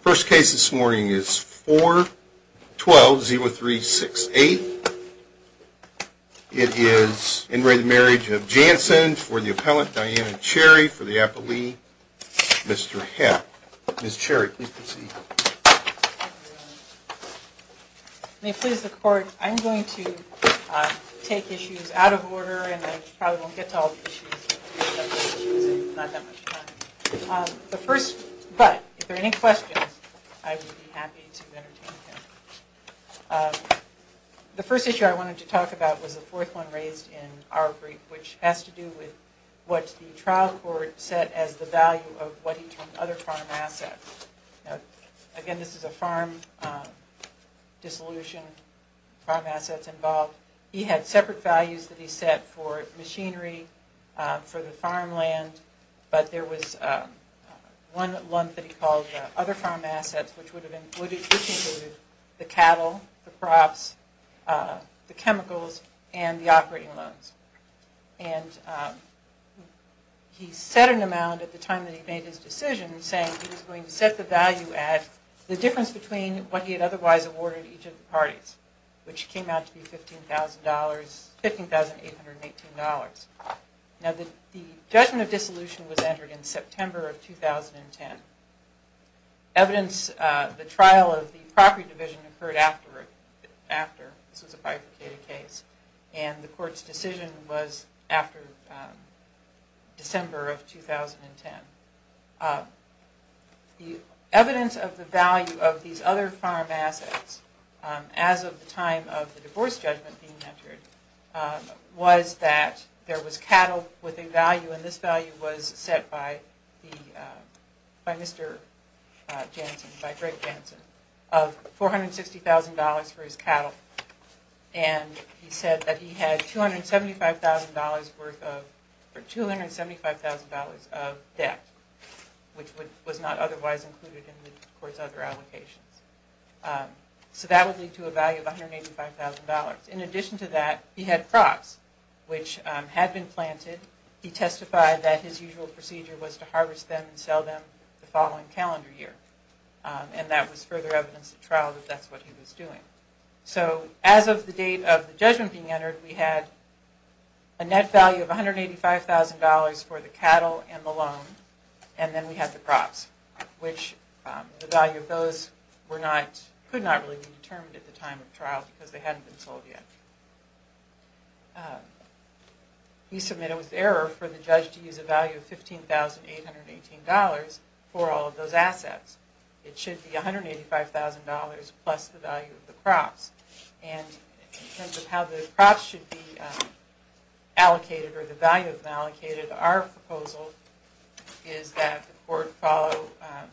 First case this morning is 4-12-0368. It is in re Marriage of Janssen for the appellant, Diana Cherry, for the appellee, Mr. Hepp. Ms. Cherry, please proceed. May it please the court, I'm going to take issues out of order and I probably won't get to all the issues. But if there are any questions, I would be happy to entertain them. The first issue I wanted to talk about was the fourth one raised in our brief, which has to do with what the trial court set as the value of what he termed other farm assets. Again, this is a farm dissolution, farm assets involved. He had separate values that he set for machinery, for the farmland, but there was one lump that he called other farm assets, which included the cattle, the crops, the chemicals, and the operating loans. He set an amount at the time that he made his decision saying he was going to set the value at the difference between what he had otherwise awarded each of the parties, which came out to be $15,818. The judgment of dissolution was entered in September of 2010. Evidence, the trial of the property division occurred after, this was a bifurcated case, and the court's decision was after December of 2010. The evidence of the value of these other farm assets as of the time of the divorce judgment being entered was that there was cattle with a value, and this value was set by Mr. Jansen, by Greg Jansen, of $460,000 for his cattle. And he said that he had $275,000 worth of, or $275,000 of debt, which was not otherwise included in the court's other allocations. So that would lead to a value of $185,000. In addition to that, he had crops, which had been planted. He testified that his usual procedure was to harvest them and sell them the following calendar year. And that was further evidence at trial that that's what he was doing. So as of the date of the judgment being entered, we had a net value of $185,000 for the cattle and the loan, and then we had the crops, which the value of those could not really be determined at the time of trial because they hadn't been sold yet. He submitted with error for the judge to use a value of $15,818 for all of those assets. It should be $185,000 plus the value of the crops. And in terms of how the crops should be allocated or the value of them allocated, our proposal is that the court follow a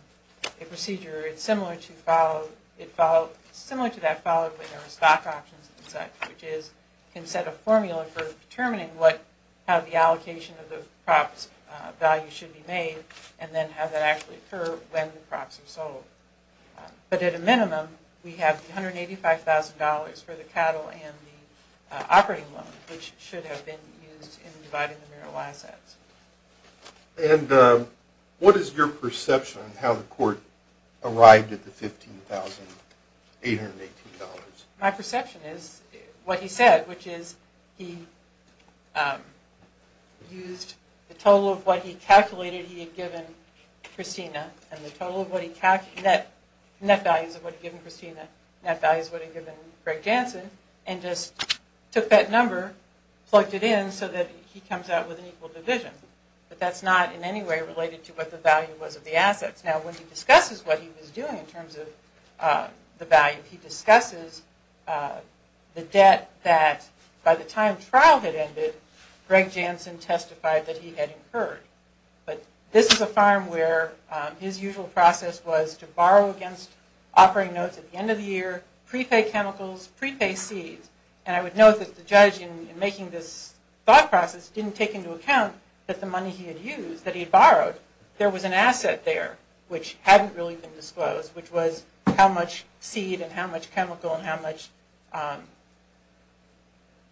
procedure. It's similar to that followed when there were stock options and such, which is you can set a formula for determining how the allocation of the crops' value should be made and then how that actually occurs when the crops are sold. But at a minimum, we have $185,000 for the cattle and the operating loan, which should have been used in dividing the mural assets. And what is your perception of how the court arrived at the $15,818? My perception is what he said, which is he used the total of what he calculated he had given Christina and the total of what he calculated, net values of what he had given Christina, net values of what he had given Greg Jansen, and just took that number, plugged it in so that he comes out with an equal division. But that's not in any way related to what the value was of the assets. Now, when he discusses what he was doing in terms of the value, he discusses the debt that by the time trial had ended, Greg Jansen testified that he had incurred. But this is a farm where his usual process was to borrow against operating notes at the end of the year, prepay chemicals, prepay seeds. And I would note that the judge in making this thought process didn't take into account that the money he had used, that he had borrowed, there was an asset there. Which hadn't really been disclosed, which was how much seed and how much chemical and how much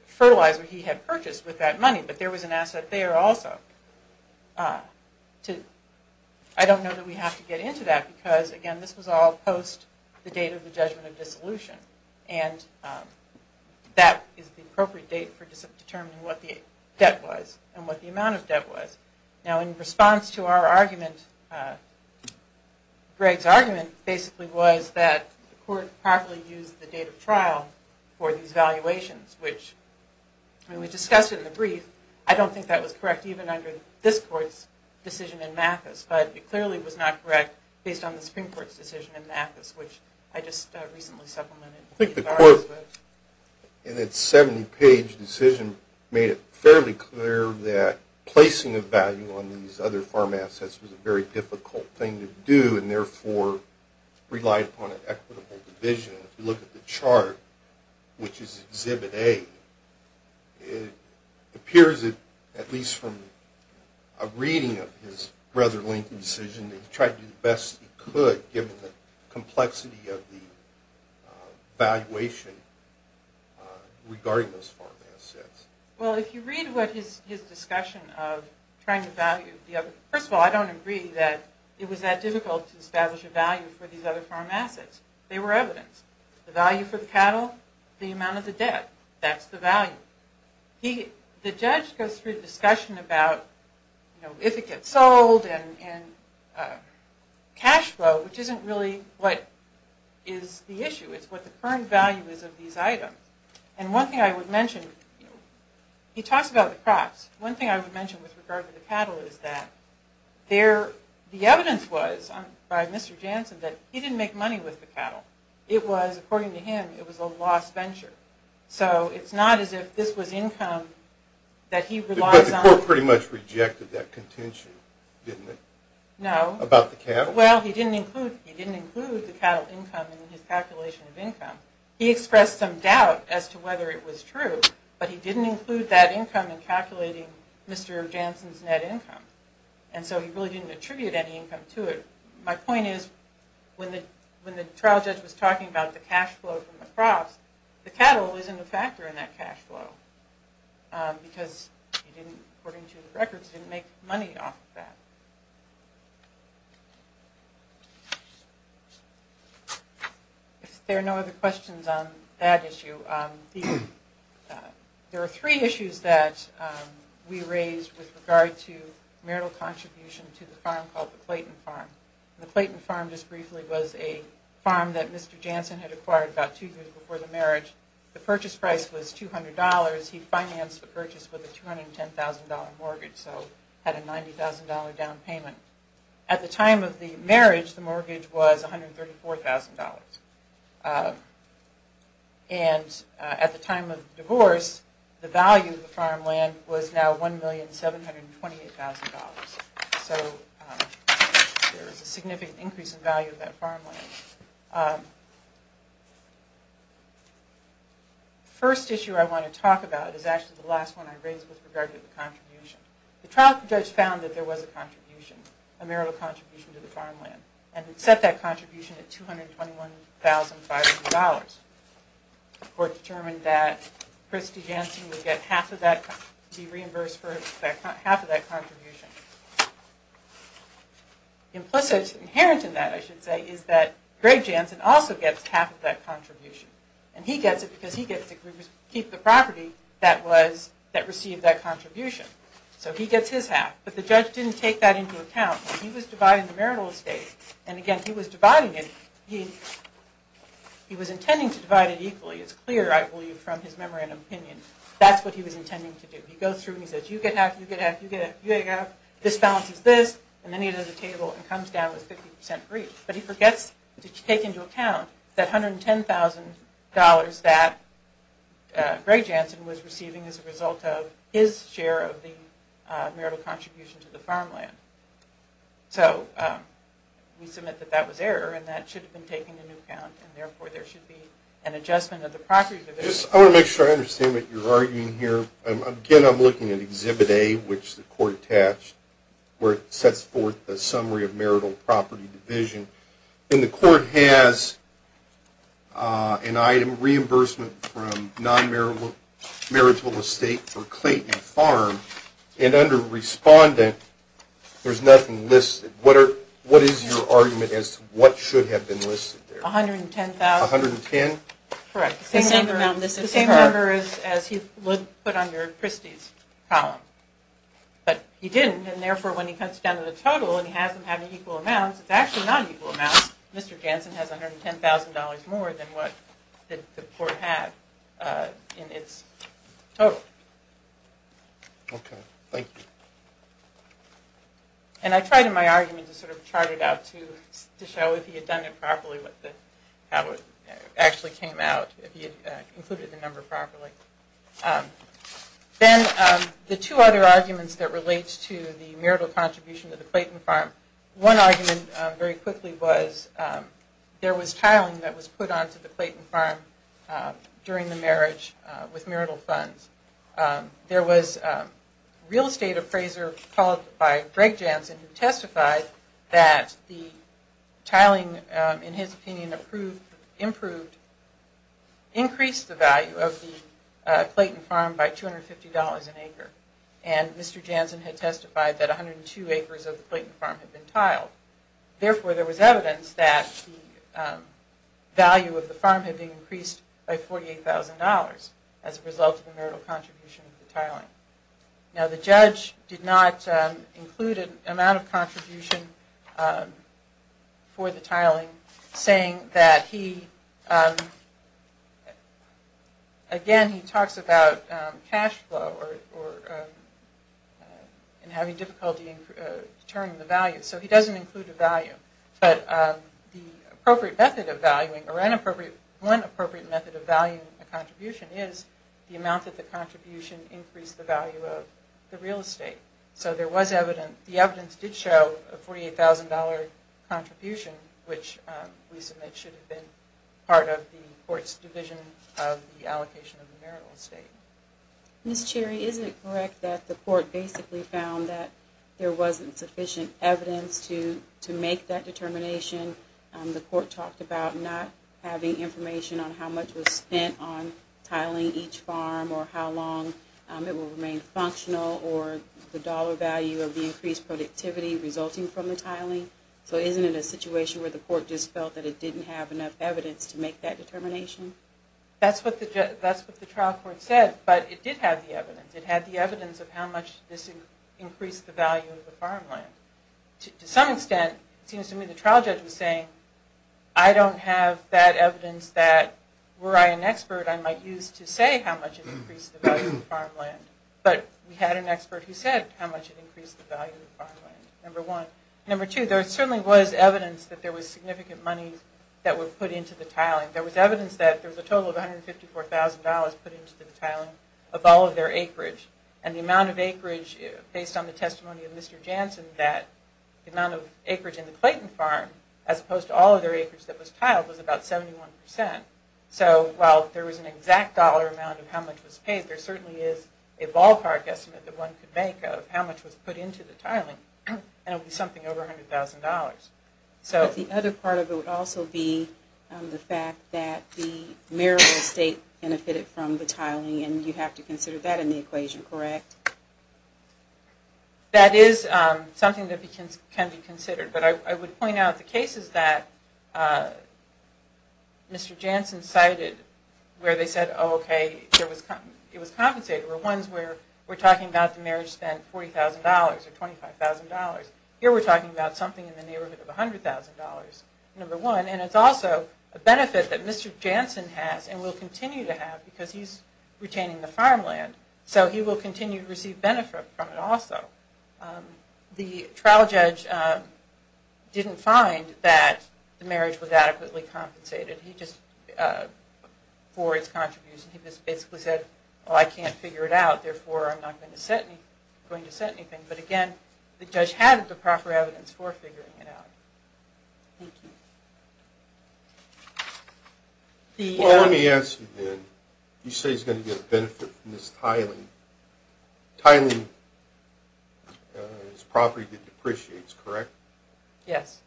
fertilizer he had purchased with that money. But there was an asset there also. I don't know that we have to get into that because, again, this was all post the date of the judgment of dissolution. And that is the appropriate date for determining what the debt was and what the amount of debt was. Now, in response to our argument, Greg's argument basically was that the court properly used the date of trial for these valuations, which when we discussed it in the brief, I don't think that was correct even under this court's decision in Mathis. But it clearly was not correct based on the Supreme Court's decision in Mathis, which I just recently supplemented. I think the court, in its 70-page decision, made it fairly clear that placing a value on these other farm assets was a very difficult thing to do and therefore relied upon an equitable division. If you look at the chart, which is Exhibit A, it appears that, at least from a reading of his brother Lincoln's decision, he tried to do the best he could given the complexity of the valuation regarding those farm assets. Well, if you read his discussion of trying to value the other... First of all, I don't agree that it was that difficult to establish a value for these other farm assets. They were evidence. The value for the cattle, the amount of the debt, that's the value. The judge goes through the discussion about if it gets sold and cash flow, which isn't really what is the issue. It's what the current value is of these items. And one thing I would mention, he talks about the crops. One thing I would mention with regard to the cattle is that the evidence was by Mr. Jansen that he didn't make money with the cattle. It was, according to him, it was a lost venture. So it's not as if this was income that he relies on. But the court pretty much rejected that contention, didn't it? No. About the cattle? Well, he didn't include the cattle income in his calculation of income. He expressed some doubt as to whether it was true, but he didn't include that income in calculating Mr. Jansen's net income. And so he really didn't attribute any income to it. My point is when the trial judge was talking about the cash flow from the crops, the cattle isn't a factor in that cash flow because he didn't, according to the records, didn't make money off of that. If there are no other questions on that issue, there are three issues that we raised with regard to marital contribution to the farm called the Clayton Farm. The Clayton Farm, just briefly, was a farm that Mr. Jansen had acquired about two years before the marriage. The purchase price was $200. He financed the purchase with a $210,000 mortgage, so had a $90,000 down payment. At the time of the marriage, the mortgage was $134,000. And at the time of divorce, the value of the farmland was now $1,728,000. So there was a significant increase in value of that farmland. The first issue I want to talk about is actually the last one I raised with regard to the contribution. The trial judge found that there was a contribution, a marital contribution to the farmland, and set that contribution at $221,500. The court determined that Christy Jansen would be reimbursed for half of that contribution. Implicit, inherent in that, I should say, is that Greg Jansen also gets half of that contribution. And he gets it because he gets to keep the property that received that contribution. So he gets his half, but the judge didn't take that into account. He was dividing the marital estate. And again, he was dividing it. He was intending to divide it equally. It's clear, I believe, from his memorandum opinion. That's what he was intending to do. He goes through and he says, you get half, you get half, you get half, you get half, this balances this, and then he does a table and comes down with 50% agreed. But he forgets to take into account that $110,000 that Greg Jansen was receiving as a result of his share of the marital contribution to the farmland. So we submit that that was error, and that should have been taken into account, and therefore there should be an adjustment of the property division. I want to make sure I understand what you're arguing here. Again, I'm looking at Exhibit A, which the court attached, where it sets forth a summary of marital property division. And the court has an item, reimbursement from non-marital estate for Clayton Farm. And under respondent, there's nothing listed. What is your argument as to what should have been listed there? $110,000. $110,000? Correct. The same number as he would put on your Christie's column. But he didn't, and therefore when he cuts down to the total and he has them having equal amounts, it's actually not equal amounts. Mr. Jansen has $110,000 more than what the court had in its total. Okay. Thank you. And I tried in my argument to sort of chart it out to show if he had done it properly, how it actually came out, if he had included the number properly. Then the two other arguments that relate to the marital contribution to the Clayton Farm. One argument very quickly was there was tiling that was put onto the Clayton Farm during the marriage with marital funds. There was real estate appraiser called by Greg Jansen who testified that the tiling, in his opinion, improved, increased the value of the Clayton Farm by $250 an acre. And Mr. Jansen had testified that 102 acres of the Clayton Farm had been tiled. Therefore, there was evidence that the value of the farm had been increased by $48,000 as a result of the marital contribution of the tiling. Now, the judge did not include an amount of contribution for the tiling, saying that he, again, he talks about cash flow and having difficulty in determining the value. So he doesn't include a value. But the appropriate method of valuing or one appropriate method of valuing a contribution is the amount that the contribution increased the value of the real estate. So there was evidence. The evidence did show a $48,000 contribution, which we submit should have been part of the court's division of the allocation of the marital estate. Ms. Cherry, is it correct that the court basically found that there wasn't sufficient evidence to make that determination? The court talked about not having information on how much was spent on tiling each farm or how long it will remain functional or the dollar value of the increased productivity resulting from the tiling. So isn't it a situation where the court just felt that it didn't have enough evidence to make that determination? That's what the trial court said, but it did have the evidence. It had the evidence of how much this increased the value of the farmland. I don't have that evidence that, were I an expert, I might use to say how much it increased the value of the farmland. But we had an expert who said how much it increased the value of the farmland, number one. Number two, there certainly was evidence that there was significant money that was put into the tiling. There was evidence that there was a total of $154,000 put into the tiling of all of their acreage. And the amount of acreage, based on the testimony of Mr. Jansen, that the amount of acreage in the Clayton farm, as opposed to all of their acreage that was tiled, was about 71%. So while there was an exact dollar amount of how much was paid, there certainly is a ballpark estimate that one could make of how much was put into the tiling, and it would be something over $100,000. But the other part of it would also be the fact that the marital estate benefited from the tiling, and you have to consider that in the equation, correct? That is something that can be considered. But I would point out the cases that Mr. Jansen cited, where they said, oh, okay, it was compensated, were ones where we're talking about the marriage spent $40,000 or $25,000. Here we're talking about something in the neighborhood of $100,000, number one. And it's also a benefit that Mr. Jansen has and will continue to have because he's retaining the farmland. So he will continue to receive benefit from it also. The trial judge didn't find that the marriage was adequately compensated for its contributions. He just basically said, well, I can't figure it out, therefore I'm not going to set anything. But again, the judge had the proper evidence for figuring it out. Thank you. Well, let me ask you then. You say he's going to get a benefit from this tiling. Tiling is property that depreciates, correct? Yes.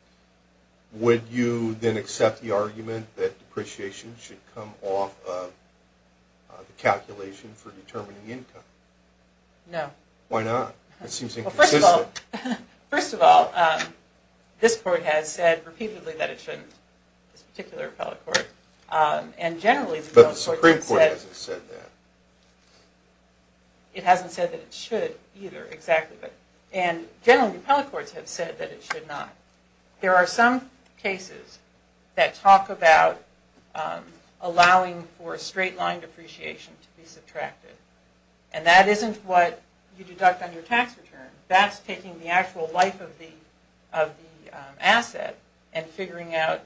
Would you then accept the argument that depreciation should come off of the calculation for determining income? No. Why not? That seems inconsistent. First of all, this court has said repeatedly that it shouldn't, this particular appellate court. But the Supreme Court hasn't said that. It hasn't said that it should either, exactly. And generally, appellate courts have said that it should not. There are some cases that talk about allowing for straight-line depreciation to be subtracted, and that isn't what you deduct on your tax return. That's taking the actual life of the asset and figuring out,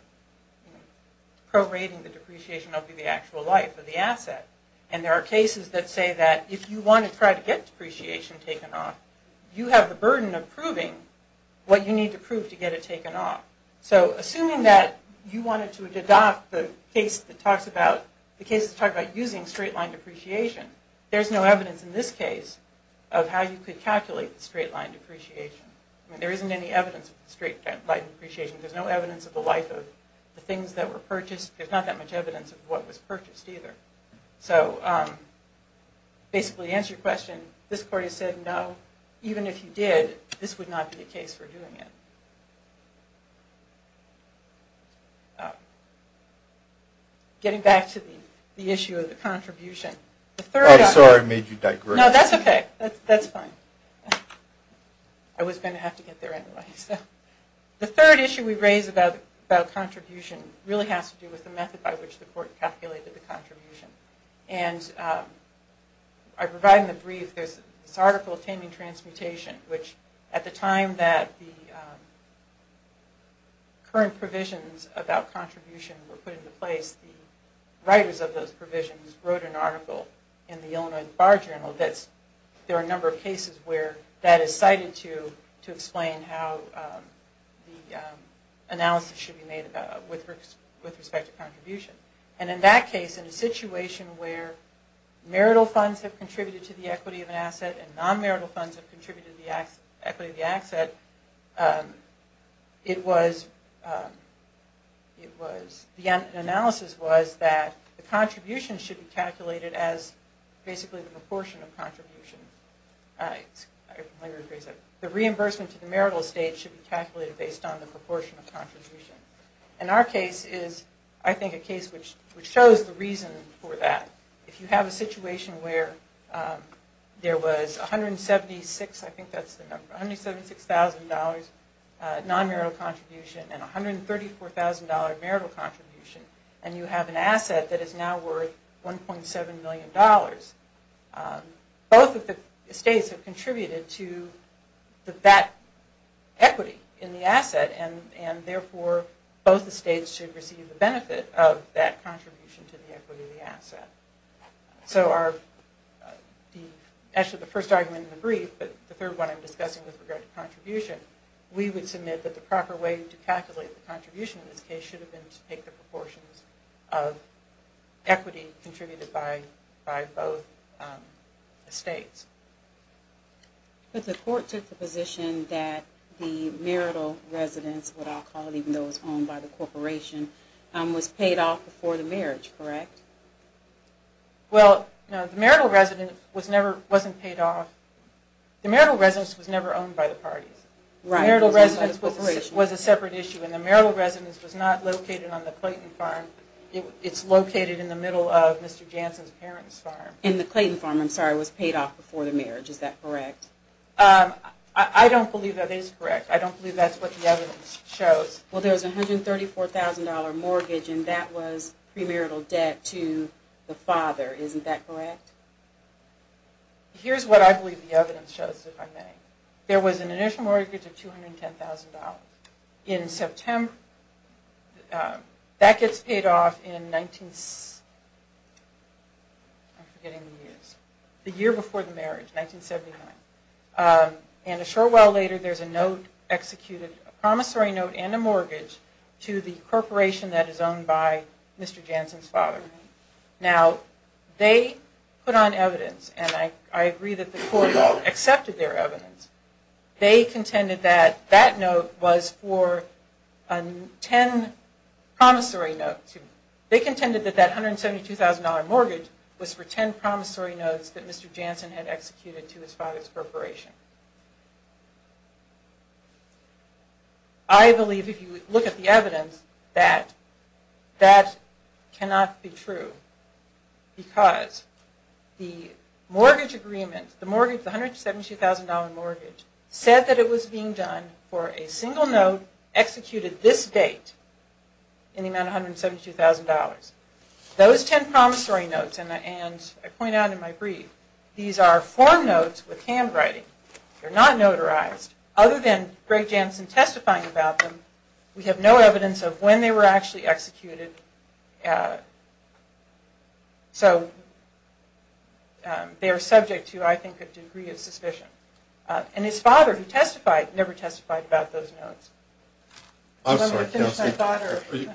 prorating the depreciation up to the actual life of the asset. And there are cases that say that if you want to try to get depreciation taken off, you have the burden of proving what you need to prove to get it taken off. So assuming that you wanted to deduct the case that talks about, the case that talks about using straight-line depreciation, there's no evidence in this case of how you could calculate the straight-line depreciation. I mean, there isn't any evidence of the straight-line depreciation. There's no evidence of the life of the things that were purchased. There's not that much evidence of what was purchased either. So basically to answer your question, this court has said no. Even if you did, this would not be a case for doing it. Getting back to the issue of the contribution, I'm sorry I made you digress. No, that's okay. That's fine. I was going to have to get there anyway. The third issue we raise about contribution really has to do with the method by which the court calculated the contribution. And I provide in the brief this article of taming transmutation, which at the time that the current provisions about contribution were put in the Illinois Bar Journal, there are a number of cases where that is cited to explain how the analysis should be made with respect to contribution. And in that case, in a situation where marital funds have contributed to the equity of an asset and non-marital funds have contributed to the equity of the asset, the analysis was that the contribution should be calculated as basically the proportion of contribution. The reimbursement to the marital estate should be calculated based on the proportion of contribution. And our case is, I think, a case which shows the reason for that. If you have a situation where there was $176,000 non-marital contribution and $134,000 marital contribution, and you have an asset that is now worth $1.7 million, both of the states have contributed to that equity in the asset, and therefore both the states should receive the benefit of that contribution to the equity of the asset. So actually the first argument in the brief, but the third one I'm discussing with regard to contribution, we would submit that the proper way to calculate the contribution in this case is to use the proportions of equity contributed by both states. But the court took the position that the marital residence, what I'll call it, even though it was owned by the corporation, was paid off before the marriage, correct? Well, no, the marital residence was never owned by the parties. Right. The marital residence was a separate issue, and the marital residence was not located on the Clayton farm. It's located in the middle of Mr. Jansen's parents' farm. And the Clayton farm, I'm sorry, was paid off before the marriage. Is that correct? I don't believe that is correct. I don't believe that's what the evidence shows. Well, there was a $134,000 mortgage, and that was premarital debt to the father. Isn't that correct? Here's what I believe the evidence shows, if I may. There was an initial mortgage of $210,000. In September, that gets paid off in the year before the marriage, 1979. And a short while later, there's a note executed, a promissory note and a mortgage to the corporation that is owned by Mr. Jansen's father. Now, they put on evidence, and I agree that the court accepted their evidence. They contended that that note was for 10 promissory notes. They contended that that $172,000 mortgage was for 10 promissory notes that Mr. Jansen had executed to his father's corporation. I believe, if you look at the evidence, that that cannot be true because the mortgage agreement, the $172,000 mortgage, said that it was being done for a single note executed this date in the amount of $172,000. Those 10 promissory notes, and I point out in my brief, these are form notes with handwriting. They're not notarized. Other than Greg Jansen testifying about them, we have no evidence of when they were actually executed. So, they are subject to, I think, a degree of suspicion. And his father, who testified, never testified about those notes. I'm sorry. Do you want me to finish my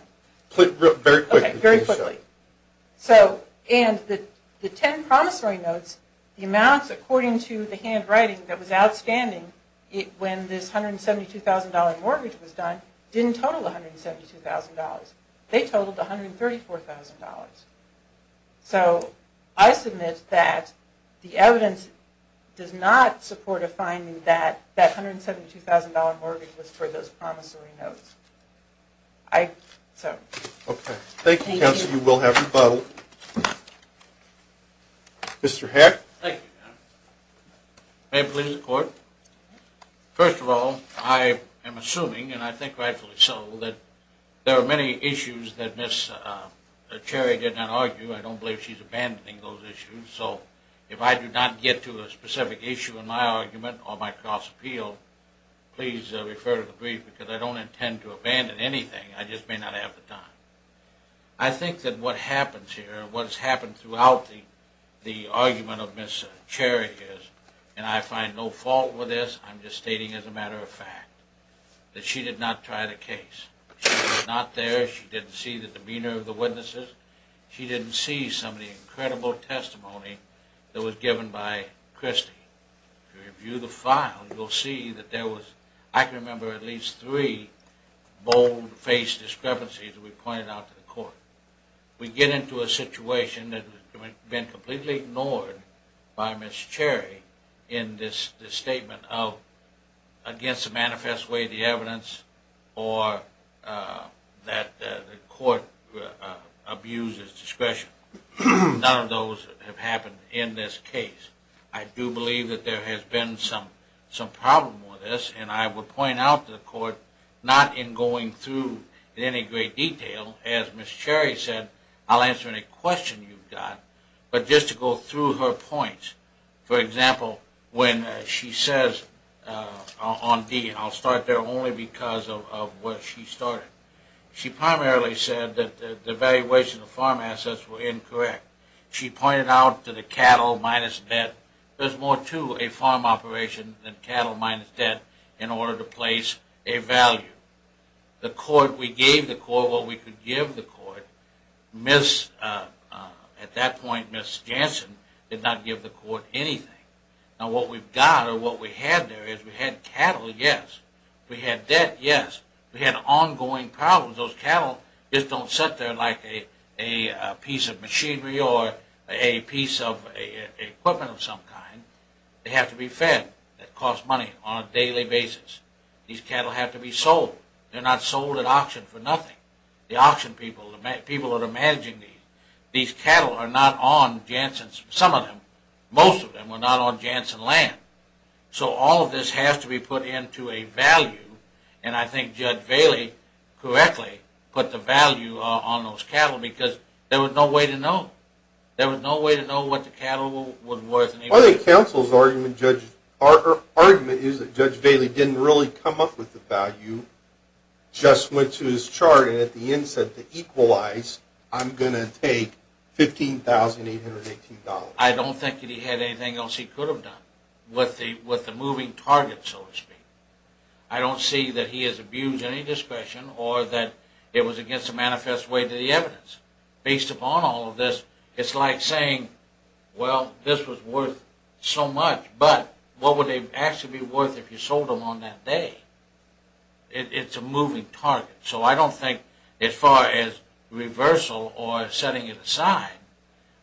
thought? Very quickly. Okay, very quickly. So, and the 10 promissory notes, the amounts, according to the handwriting that was outstanding when this $172,000 mortgage was done didn't total $172,000. They totaled $134,000. So, I submit that the evidence does not support a finding that that $172,000 mortgage was for those promissory notes. I, so. Okay. Thank you, counsel. Mr. Heck. Thank you, counsel. May it please the court. First of all, I am assuming, and I think rightfully so, that there are many issues that Ms. Cherry did not argue. I don't believe she's abandoning those issues. So, if I do not get to a specific issue in my argument or my cross-appeal, please refer to the brief because I don't intend to abandon anything. I just may not have the time. I think that what happens here, what has happened throughout the argument of Ms. Cherry is, and I find no fault with this, I'm just stating as a matter of fact, that she did not try the case. She was not there. She didn't see the demeanor of the witnesses. She didn't see some of the incredible testimony that was given by Christie. Review the file, you'll see that there was, I can remember at least three bold-faced discrepancies that we pointed out to the court. We get into a situation that has been completely ignored by Ms. Cherry in this statement of against the manifest way of the evidence or that the court abuses discretion. None of those have happened in this case. I do believe that there has been some problem with this, and I would point out to the court, not in going through in any great detail, as Ms. Cherry said, I'll answer any question you've got, but just to go through her points. For example, when she says on D, and I'll start there only because of where she started, she primarily said that the valuation of farm assets were incorrect. She pointed out to the cattle minus debt, there's more to a farm operation than cattle minus debt in order to place a value. The court, we gave the court what we could give the court. At that point, Ms. Jansen did not give the court anything. Now what we've got or what we had there is we had cattle, yes. We had debt, yes. We had ongoing problems. Those cattle just don't sit there like a piece of machinery or a piece of equipment of some kind. They have to be fed. It costs money on a daily basis. These cattle have to be sold. They're not sold at auction for nothing. The auction people, the people that are managing these, these cattle are not on Jansen's, some of them, most of them were not on Jansen land. So all of this has to be put into a value, and I think Judge Bailey correctly put the value on those cattle because there was no way to know. Well, I think counsel's argument, Judge, or argument is that Judge Bailey didn't really come up with the value, just went to his chart, and at the end said to equalize, I'm going to take $15,818. I don't think that he had anything else he could have done with the moving target, so to speak. I don't see that he has abused any discretion or that it was against the manifest way to the evidence. Based upon all of this, it's like saying, well, this was worth so much, but what would they actually be worth if you sold them on that day? It's a moving target, so I don't think as far as reversal or setting it aside,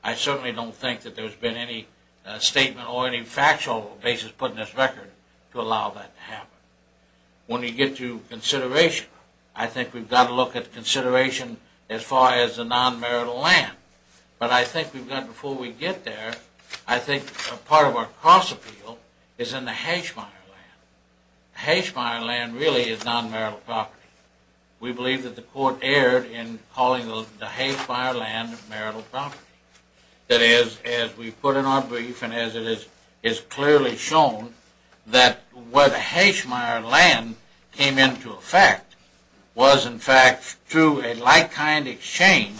I certainly don't think that there's been any statement or any factual basis put in this record to allow that to happen. When you get to consideration, I think we've got to look at consideration as far as the non-marital land, but I think before we get there, I think part of our cross-appeal is in the Hashmire land. The Hashmire land really is non-marital property. We believe that the court erred in calling the Hashmire land marital property. That is, as we put in our brief and as it is clearly shown, that where the Hashmire land came into effect was, in fact, through a like-kind exchange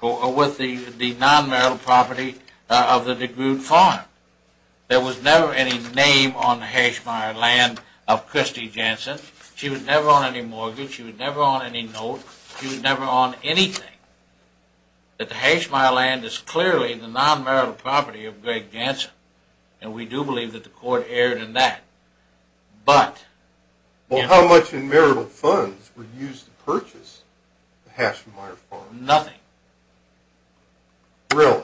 with the non-marital property of the DeGroote farm. There was never any name on the Hashmire land of Christy Jansen. She was never on any mortgage. She was never on any note. She was never on anything. The Hashmire land is clearly the non-marital property of Greg Jansen, and we do believe that the court erred in that. But... Well, how much in marital funds were used to purchase the Hashmire farm? Nothing. Really?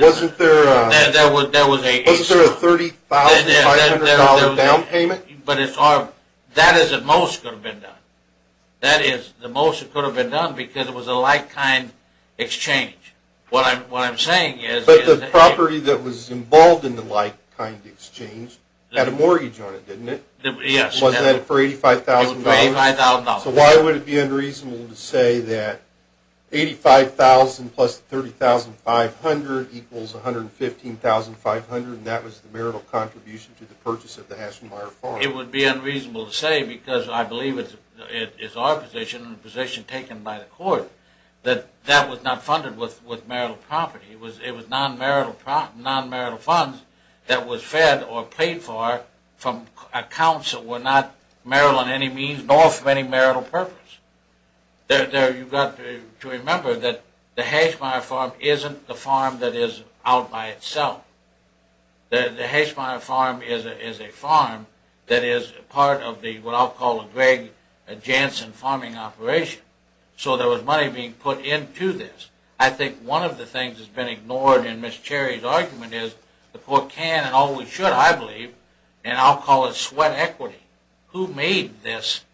Wasn't there a $30,500 down payment? That is the most that could have been done. That is the most that could have been done because it was a like-kind exchange. What I'm saying is... But the property that was involved in the like-kind exchange had a mortgage on it, didn't it? Yes. Was that for $85,000? It was for $85,000. So why would it be unreasonable to say that $85,000 plus $30,500 equals $115,500, and that was the marital contribution to the purchase of the Hashmire farm? It would be unreasonable to say because I believe it is our position and the position taken by the court that that was not funded with marital property. It was non-marital funds that was fed or paid for from accounts that were not marital in any means, nor for any marital purpose. You've got to remember that the Hashmire farm isn't the farm that is out by itself. The Hashmire farm is a farm that is part of what I'll call the Greg Jansen farming operation. So there was money being put into this. I think one of the things that's been ignored in Ms. Cherry's argument is the court can and always should, I believe, and I'll call it sweat equity. Who made this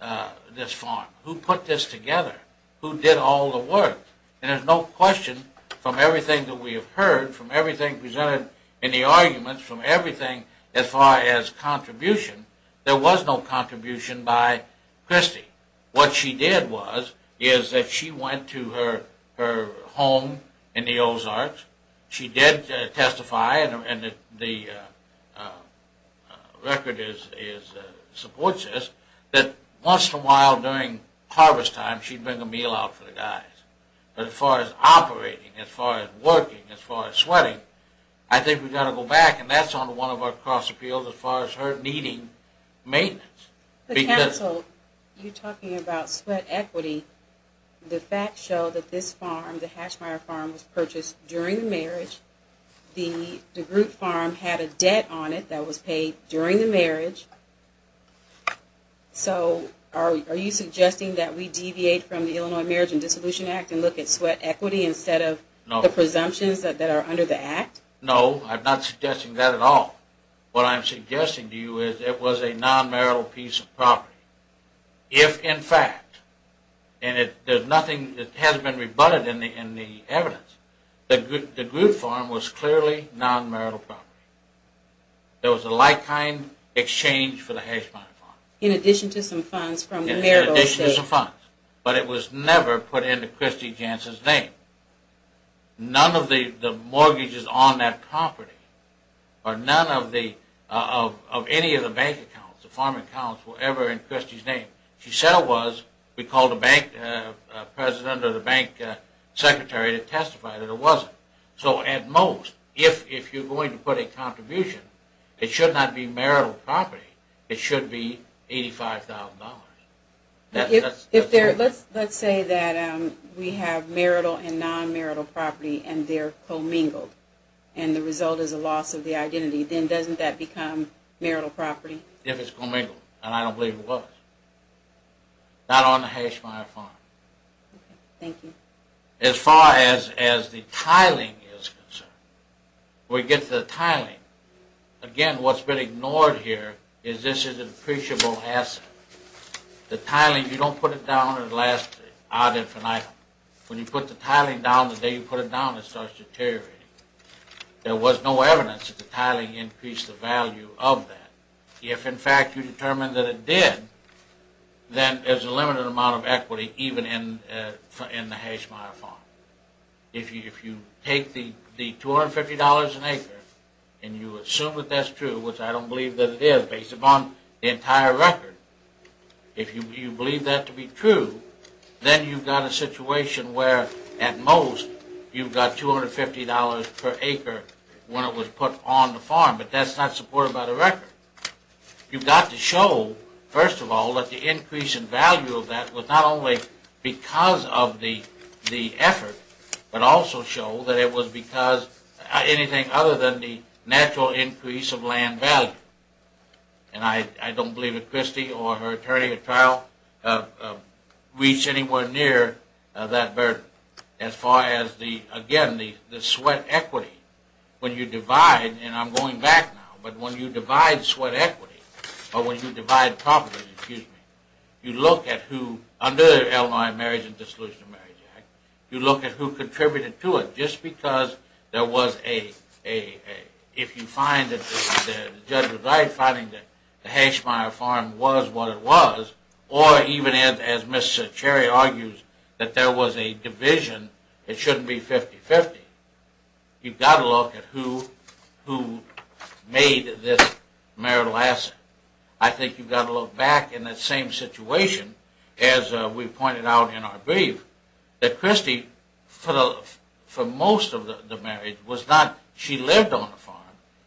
farm? Who put this together? Who did all the work? And there's no question from everything that we have heard, from everything presented in the arguments, from everything as far as contribution, there was no contribution by Christy. What she did was, is that she went to her home in the Ozarks. She did testify, and the record supports this, that once in a while during harvest time she'd bring a meal out for the guys. But as far as operating, as far as working, as far as sweating, I think we've got to go back, and that's on one of our cross appeals as far as her needing maintenance. You're talking about sweat equity. The facts show that this farm, the Hashmeyer farm, was purchased during the marriage. The DeGroote farm had a debt on it that was paid during the marriage. So are you suggesting that we deviate from the Illinois Marriage and Dissolution Act and look at sweat equity instead of the presumptions that are under the act? No, I'm not suggesting that at all. What I'm suggesting to you is it was a non-marital piece of property. If in fact, and there's nothing that hasn't been rebutted in the evidence, the DeGroote farm was clearly non-marital property. There was a like-kind exchange for the Hashmeyer farm. In addition to some funds from marital savings. In addition to some funds. But it was never put into Christy Jantz's name. None of the mortgages on that property or none of any of the bank accounts, the farm accounts were ever in Christy's name. She said it was. We called the bank president or the bank secretary to testify that it wasn't. So at most, if you're going to put a contribution, it should not be marital property. It should be $85,000. Let's say that we have marital and non-marital property and they're commingled. And the result is a loss of the identity. Then doesn't that become marital property? If it's commingled. And I don't believe it was. Not on the Hashmeyer farm. Thank you. As far as the tiling is concerned. We get to the tiling. Again, what's been ignored here is this is an appreciable asset. The tiling, you don't put it down at last. When you put the tiling down, the day you put it down, it starts deteriorating. There was no evidence that the tiling increased the value of that. If, in fact, you determine that it did, then there's a limited amount of equity, even in the Hashmeyer farm. If you take the $250 an acre and you assume that that's true, which I don't believe that it is based upon the entire record. If you believe that to be true, then you've got a situation where at most you've got $250 per acre when it was put on the farm. But that's not supported by the record. You've got to show, first of all, that the increase in value of that was not only because of the effort, but also show that it was because anything other than the natural increase of land value. And I don't believe that Christy or her attorney at trial reached anywhere near that burden as far as the, again, the sweat equity. When you divide, and I'm going back now, but when you divide sweat equity, or when you divide property, you look at who, under the Illinois Marriage and Dissolution of Marriage Act, you look at who contributed to it. Just because there was a, if you find that the judge was right, finding that the Hashmeyer farm was what it was, or even as Ms. Cherry argues, that there was a division, it shouldn't be 50-50. You've got to look at who made this marital asset. I think you've got to look back in that same situation as we pointed out in our brief, that Christy, for most of the marriage, was not, she lived on the farm.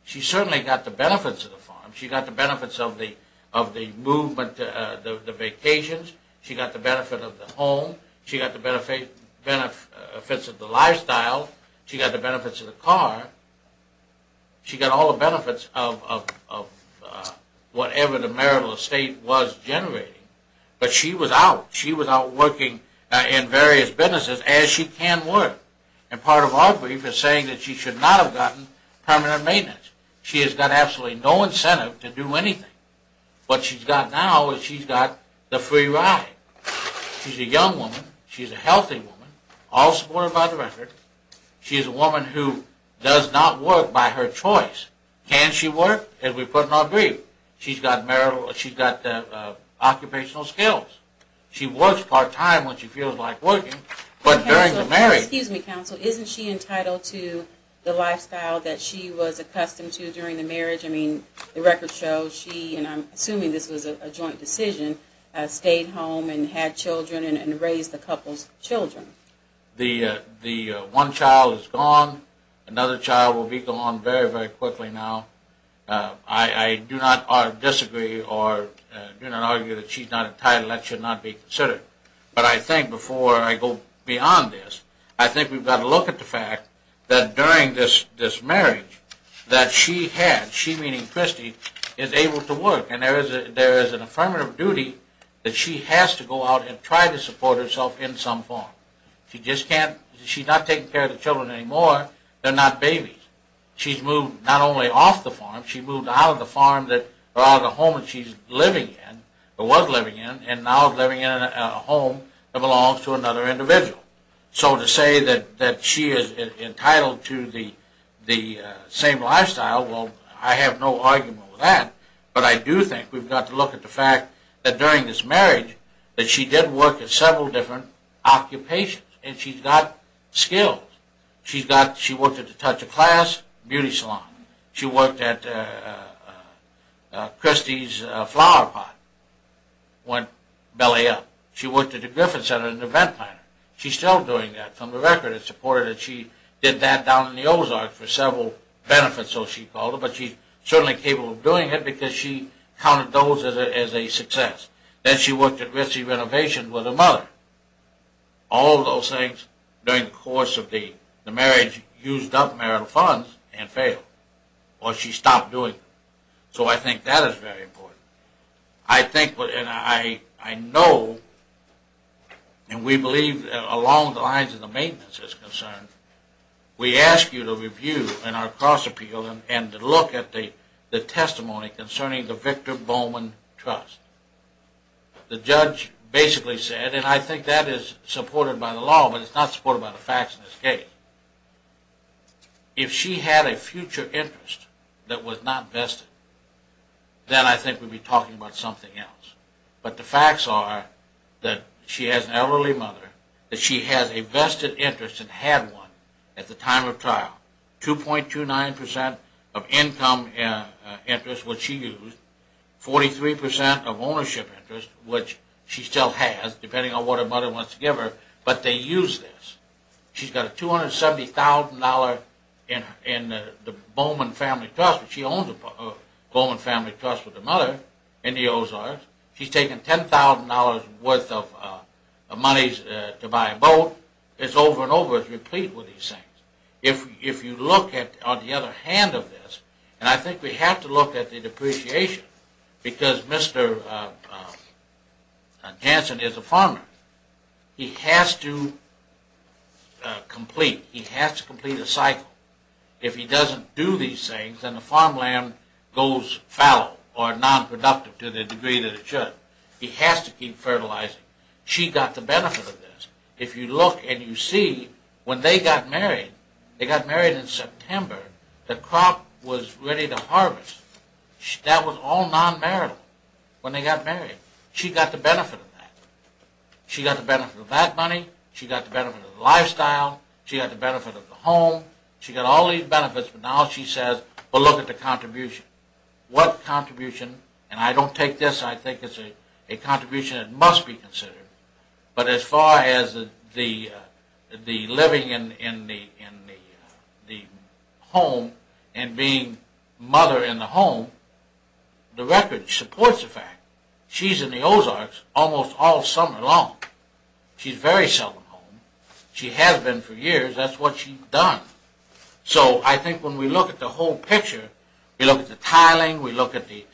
She certainly got the benefits of the farm. She got the benefits of the movement, the vacations. She got the benefit of the home. She got the benefits of the lifestyle. She got the benefits of the car. She got all the benefits of whatever the marital estate was generating. But she was out. She was out working in various businesses as she can work. And part of our brief is saying that she should not have gotten permanent maintenance. She has got absolutely no incentive to do anything. What she's got now is she's got the free ride. She's a young woman. She's a healthy woman, all supported by the record. She is a woman who does not work by her choice. Can she work? As we put in our brief, she's got occupational skills. She works part-time when she feels like working, but during the marriage. Excuse me, counsel. Isn't she entitled to the lifestyle that she was accustomed to during the marriage? I mean, the record shows she, and I'm assuming this was a joint decision, stayed home and had children and raised the couple's children. The one child is gone. Another child will be gone very, very quickly now. I do not disagree or do not argue that she's not entitled. That should not be considered. But I think before I go beyond this, I think we've got to look at the fact that during this marriage that she had, she meaning Christy, is able to work. And there is an affirmative duty that she has to go out and try to support herself in some form. She just can't. She's not taking care of the children anymore. They're not babies. She's moved not only off the farm, she moved out of the home that she was living in and now is living in a home that belongs to another individual. So to say that she is entitled to the same lifestyle, well, I have no argument with that. But I do think we've got to look at the fact that during this marriage that she did work at several different occupations and she's got skills. She's got, she worked at the Touch of Class beauty salon. She worked at Christy's flower pot, went belly up. She worked at the Griffin Center, an event planner. She's still doing that. From the record, it's reported that she did that down in the Ozarks for several benefits, so she called it. But she's certainly capable of doing it because she counted those as a success. Then she worked at Ritzy Renovations with her mother. All those things during the course of the marriage used up marital funds and failed. Or she stopped doing them. So I think that is very important. I think, and I know, and we believe along the lines of the maintenance is concerned, we ask you to review in our cross-appeal and to look at the testimony concerning the Victor Bowman Trust. The judge basically said, and I think that is supported by the law, but it's not supported by the facts in this case, if she had a future interest that was not vested, then I think we'd be talking about something else. But the facts are that she has an elderly mother, that she has a vested interest and had one at the time of trial. 2.29% of income interest was she used. 43% of ownership interest, which she still has, depending on what her mother wants to give her, but they used this. She's got a $270,000 in the Bowman Family Trust, but she owns a Bowman Family Trust with her mother in the Ozarks. She's taken $10,000 worth of monies to buy a boat. It's over and over as a repeat with these things. If you look at, on the other hand of this, and I think we have to look at the depreciation because Mr. Jansen is a farmer. He has to complete, he has to complete a cycle. If he doesn't do these things, then the farmland goes fallow or nonproductive to the degree that it should. He has to keep fertilizing. She got the benefit of this. If you look and you see, when they got married, they got married in September, the crop was ready to harvest. That was all non-marital when they got married. She got the benefit of that. She got the benefit of that money. She got the benefit of the lifestyle. She got the benefit of the home. She got all these benefits, but now she says, well, look at the contribution. What contribution, and I don't take this. I think it's a contribution that must be considered, but as far as the living in the home and being mother in the home, the record supports the fact. She's in the Ozarks almost all summer long. She's very seldom home. She has been for years. That's what she's done. So I think when we look at the whole picture, we look at the tiling, we look at the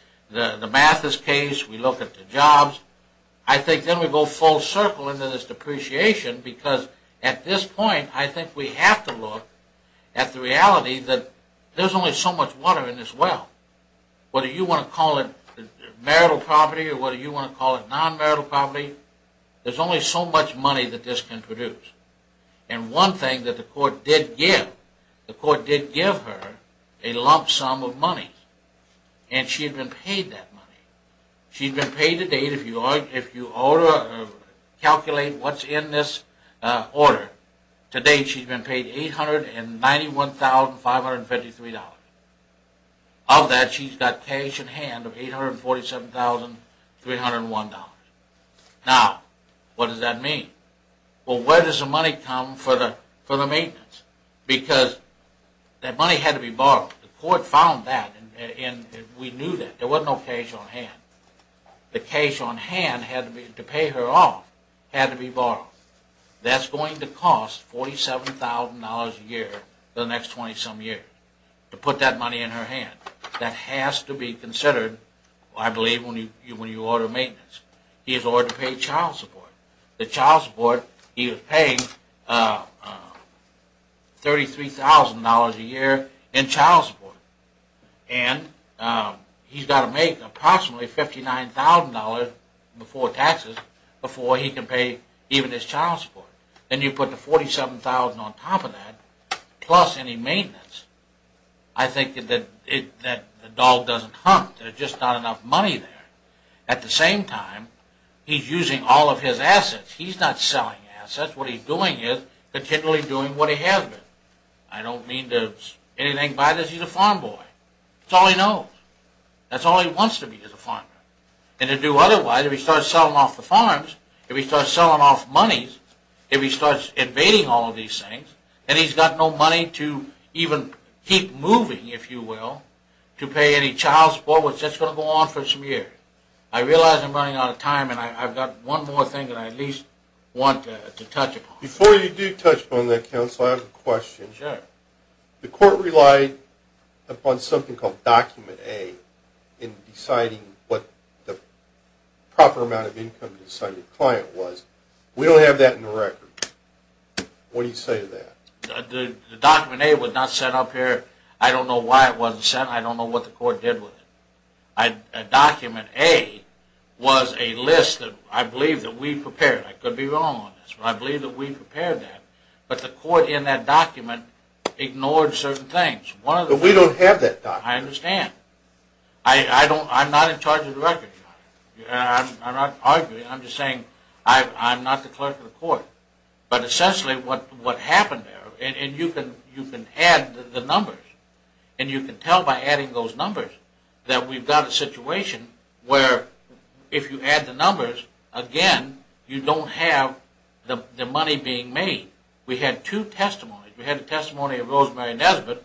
Mathis case, we look at the jobs. I think then we go full circle into this depreciation because at this point, I think we have to look at the reality that there's only so much water in this well. Whether you want to call it marital property or whether you want to call it non-marital property, there's only so much money that this can produce. And one thing that the court did give, the court did give her a lump sum of money, and she had been paid that money. She had been paid to date, if you calculate what's in this order, to date she's been paid $891,553. Of that, she's got cash in hand of $847,301. Now, what does that mean? Well, where does the money come for the maintenance? Because that money had to be borrowed. The court found that and we knew that. There was no cash on hand. The cash on hand to pay her off had to be borrowed. That's going to cost $47,000 a year for the next 20-some years to put that money in her hand. That has to be considered, I believe, when you order maintenance. He has ordered to pay child support. The child support, he was paying $33,000 a year in child support. And he's got to make approximately $59,000 before taxes before he can pay even his child support. Then you put the $47,000 on top of that, plus any maintenance, I think that the dog doesn't hunt. There's just not enough money there. At the same time, he's using all of his assets. He's not selling assets. What he's doing is continually doing what he has been. I don't mean to anything by this. He's a farm boy. That's all he knows. That's all he wants to be is a farmer. And to do otherwise, if he starts selling off the farms, if he starts selling off money, if he starts invading all of these things, then he's got no money to even keep moving, if you will, to pay any child support, which that's going to go on for some years. I realize I'm running out of time and I've got one more thing that I at least want to touch upon. Before you do touch upon that, counsel, I have a question. Sure. The court relied upon something called Document A in deciding what the proper amount of income to assign your client was. We don't have that in the record. What do you say to that? The Document A was not set up here. I don't know why it wasn't set. I don't know what the court did with it. Document A was a list that I believe that we prepared. I could be wrong on this. I believe that we prepared that. But the court in that document ignored certain things. But we don't have that document. I understand. I'm not in charge of the record. I'm not arguing. I'm just saying I'm not the clerk of the court. But essentially what happened there, and you can add the numbers, and you can tell by adding those numbers that we've got a situation where if you add the numbers, again, you don't have the money being made. We had two testimonies. We had the testimony of Rosemary Nesbitt,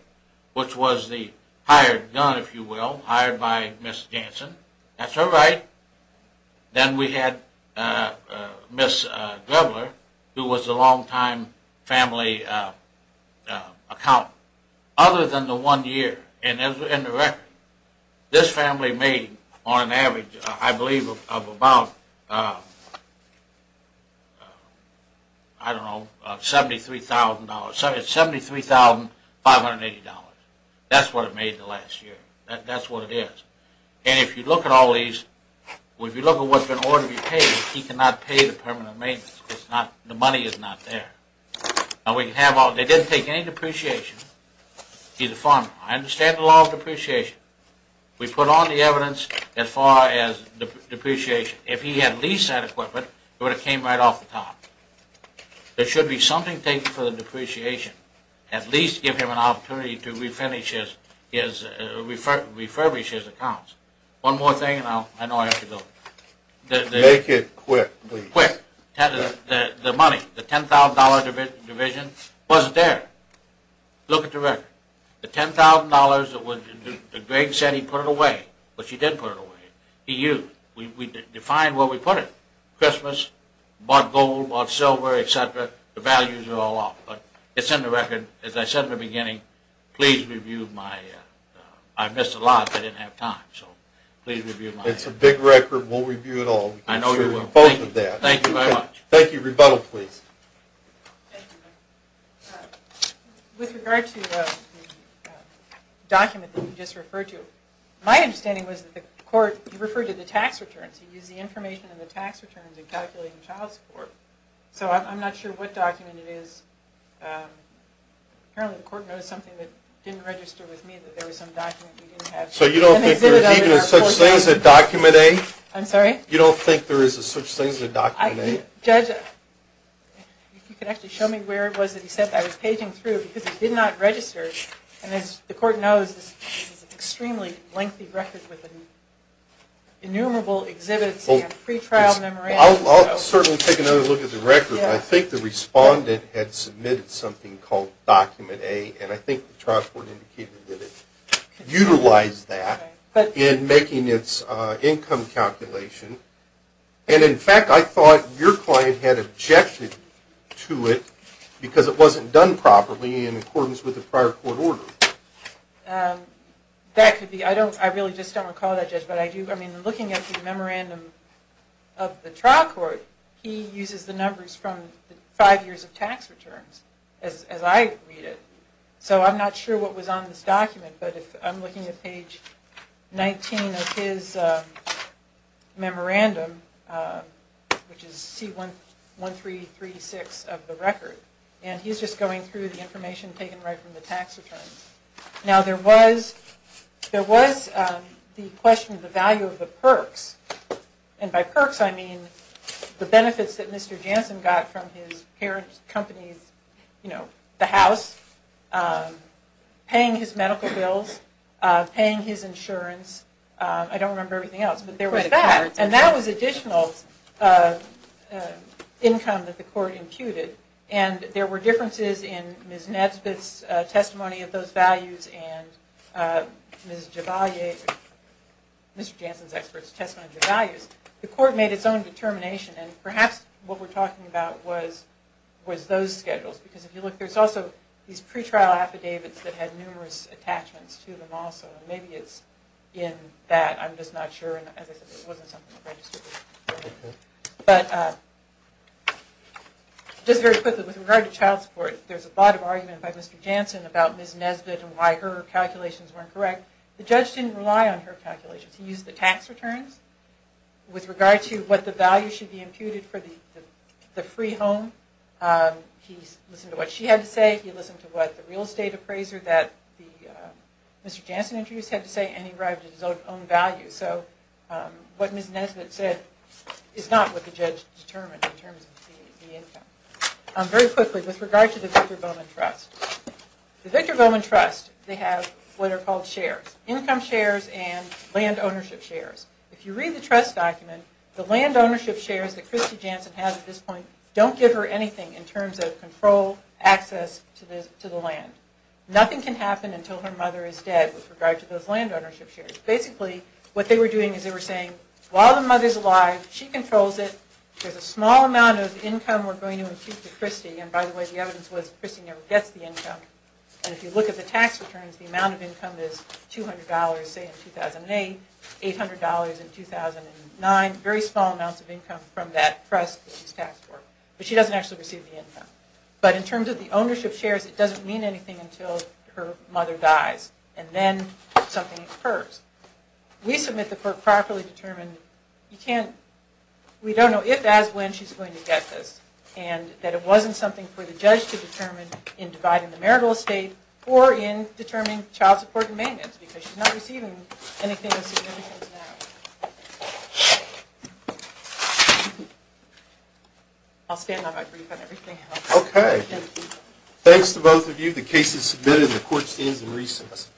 which was the hired gun, if you will, hired by Ms. Jansen. That's her right. Then we had Ms. Drebbler, who was a longtime family accountant. Other than the one year in the record, this family made on an average, I believe, of about, I don't know, $73,000. $73,580. That's what it made the last year. That's what it is. And if you look at all these, if you look at what's in order to be paid, he cannot pay the permanent maintenance. The money is not there. They didn't take any depreciation. He's a farmer. I understand the law of depreciation. We put all the evidence as far as depreciation. If he had leased that equipment, it would have came right off the top. There should be something taken for the depreciation, at least give him an opportunity to refurbish his accounts. One more thing, and I know I have to go. Make it quick, please. Quick. The money, the $10,000 division, wasn't there. Look at the record. The $10,000 that Greg said he put it away, which he did put it away, he used. We defined where we put it. Christmas, bought gold, bought silver, et cetera. The values are all off. But it's in the record. As I said in the beginning, please review my – I missed a lot. I didn't have time. So please review my – It's a big record. We'll review it all. I know you will. Both of that. Thank you very much. Rebuttal, please. With regard to the document that you just referred to, my understanding was that the court referred to the tax returns. He used the information in the tax returns in calculating child support. So I'm not sure what document it is. Apparently the court noticed something that didn't register with me, that there was some document we didn't have. So you don't think there's even such things as document A? I'm sorry? You don't think there is such things as document A? Judge, if you could actually show me where it was that he said that I was paging through, because it did not register. And as the court knows, this is an extremely lengthy record with innumerable exhibits and pretrial memorandums. I'll certainly take another look at the record. I think the respondent had submitted something called document A, and I think the trial court indicated that it utilized that in making its income calculation. And in fact, I thought your client had objected to it because it wasn't done properly in accordance with the prior court order. That could be. I really just don't recall that, Judge. Looking at the memorandum of the trial court, he uses the numbers from the five years of tax returns, as I read it. So I'm not sure what was on this document, but I'm looking at page 19 of his memorandum, which is C1336 of the record. And he's just going through the information taken right from the tax returns. Now, there was the question of the value of the perks. And by perks, I mean the benefits that Mr. Janssen got from his parent company's, you know, the house, paying his medical bills, paying his insurance. I don't remember everything else, but there was that. And that was additional income that the court imputed. And there were differences in Ms. Nesbitt's testimony of those values and Ms. Jebalia, Mr. Janssen's expert's testimony of the values. The court made its own determination. And perhaps what we're talking about was those schedules. Because if you look, there's also these pretrial affidavits that had numerous attachments to them also. Maybe it's in that. I'm just not sure. And as I said, it wasn't something registered. But just very quickly, with regard to child support, there's a lot of argument by Mr. Janssen about Ms. Nesbitt and why her calculations weren't correct. The judge didn't rely on her calculations. He used the tax returns with regard to what the value should be imputed for the free home. He listened to what she had to say. He listened to what the real estate appraiser that Mr. Janssen introduced had to say. And he arrived at his own values. So what Ms. Nesbitt said is not what the judge determined in terms of the income. Very quickly, with regard to the Victor Bowman Trust. The Victor Bowman Trust, they have what are called shares. Income shares and land ownership shares. If you read the trust document, the land ownership shares that Christy Janssen has at this point don't give her anything in terms of control, access to the land. Nothing can happen until her mother is dead with regard to those land ownership shares. Basically, what they were doing is they were saying, while the mother's alive, she controls it. There's a small amount of income we're going to impute to Christy. And by the way, the evidence was Christy never gets the income. And if you look at the tax returns, the amount of income is $200, say, in 2008. $800 in 2009. Very small amounts of income from that trust that she's taxed for. But she doesn't actually receive the income. But in terms of the ownership shares, it doesn't mean anything until her mother dies. And then something occurs. We submit that we're properly determined. We don't know if, as, when she's going to get this. And that it wasn't something for the judge to determine in dividing the marital estate or in determining child support and maintenance because she's not receiving anything of significance now. I'll stand up. I've briefed on everything else. Okay. Thanks to both of you. The case is submitted and the court stands in recess.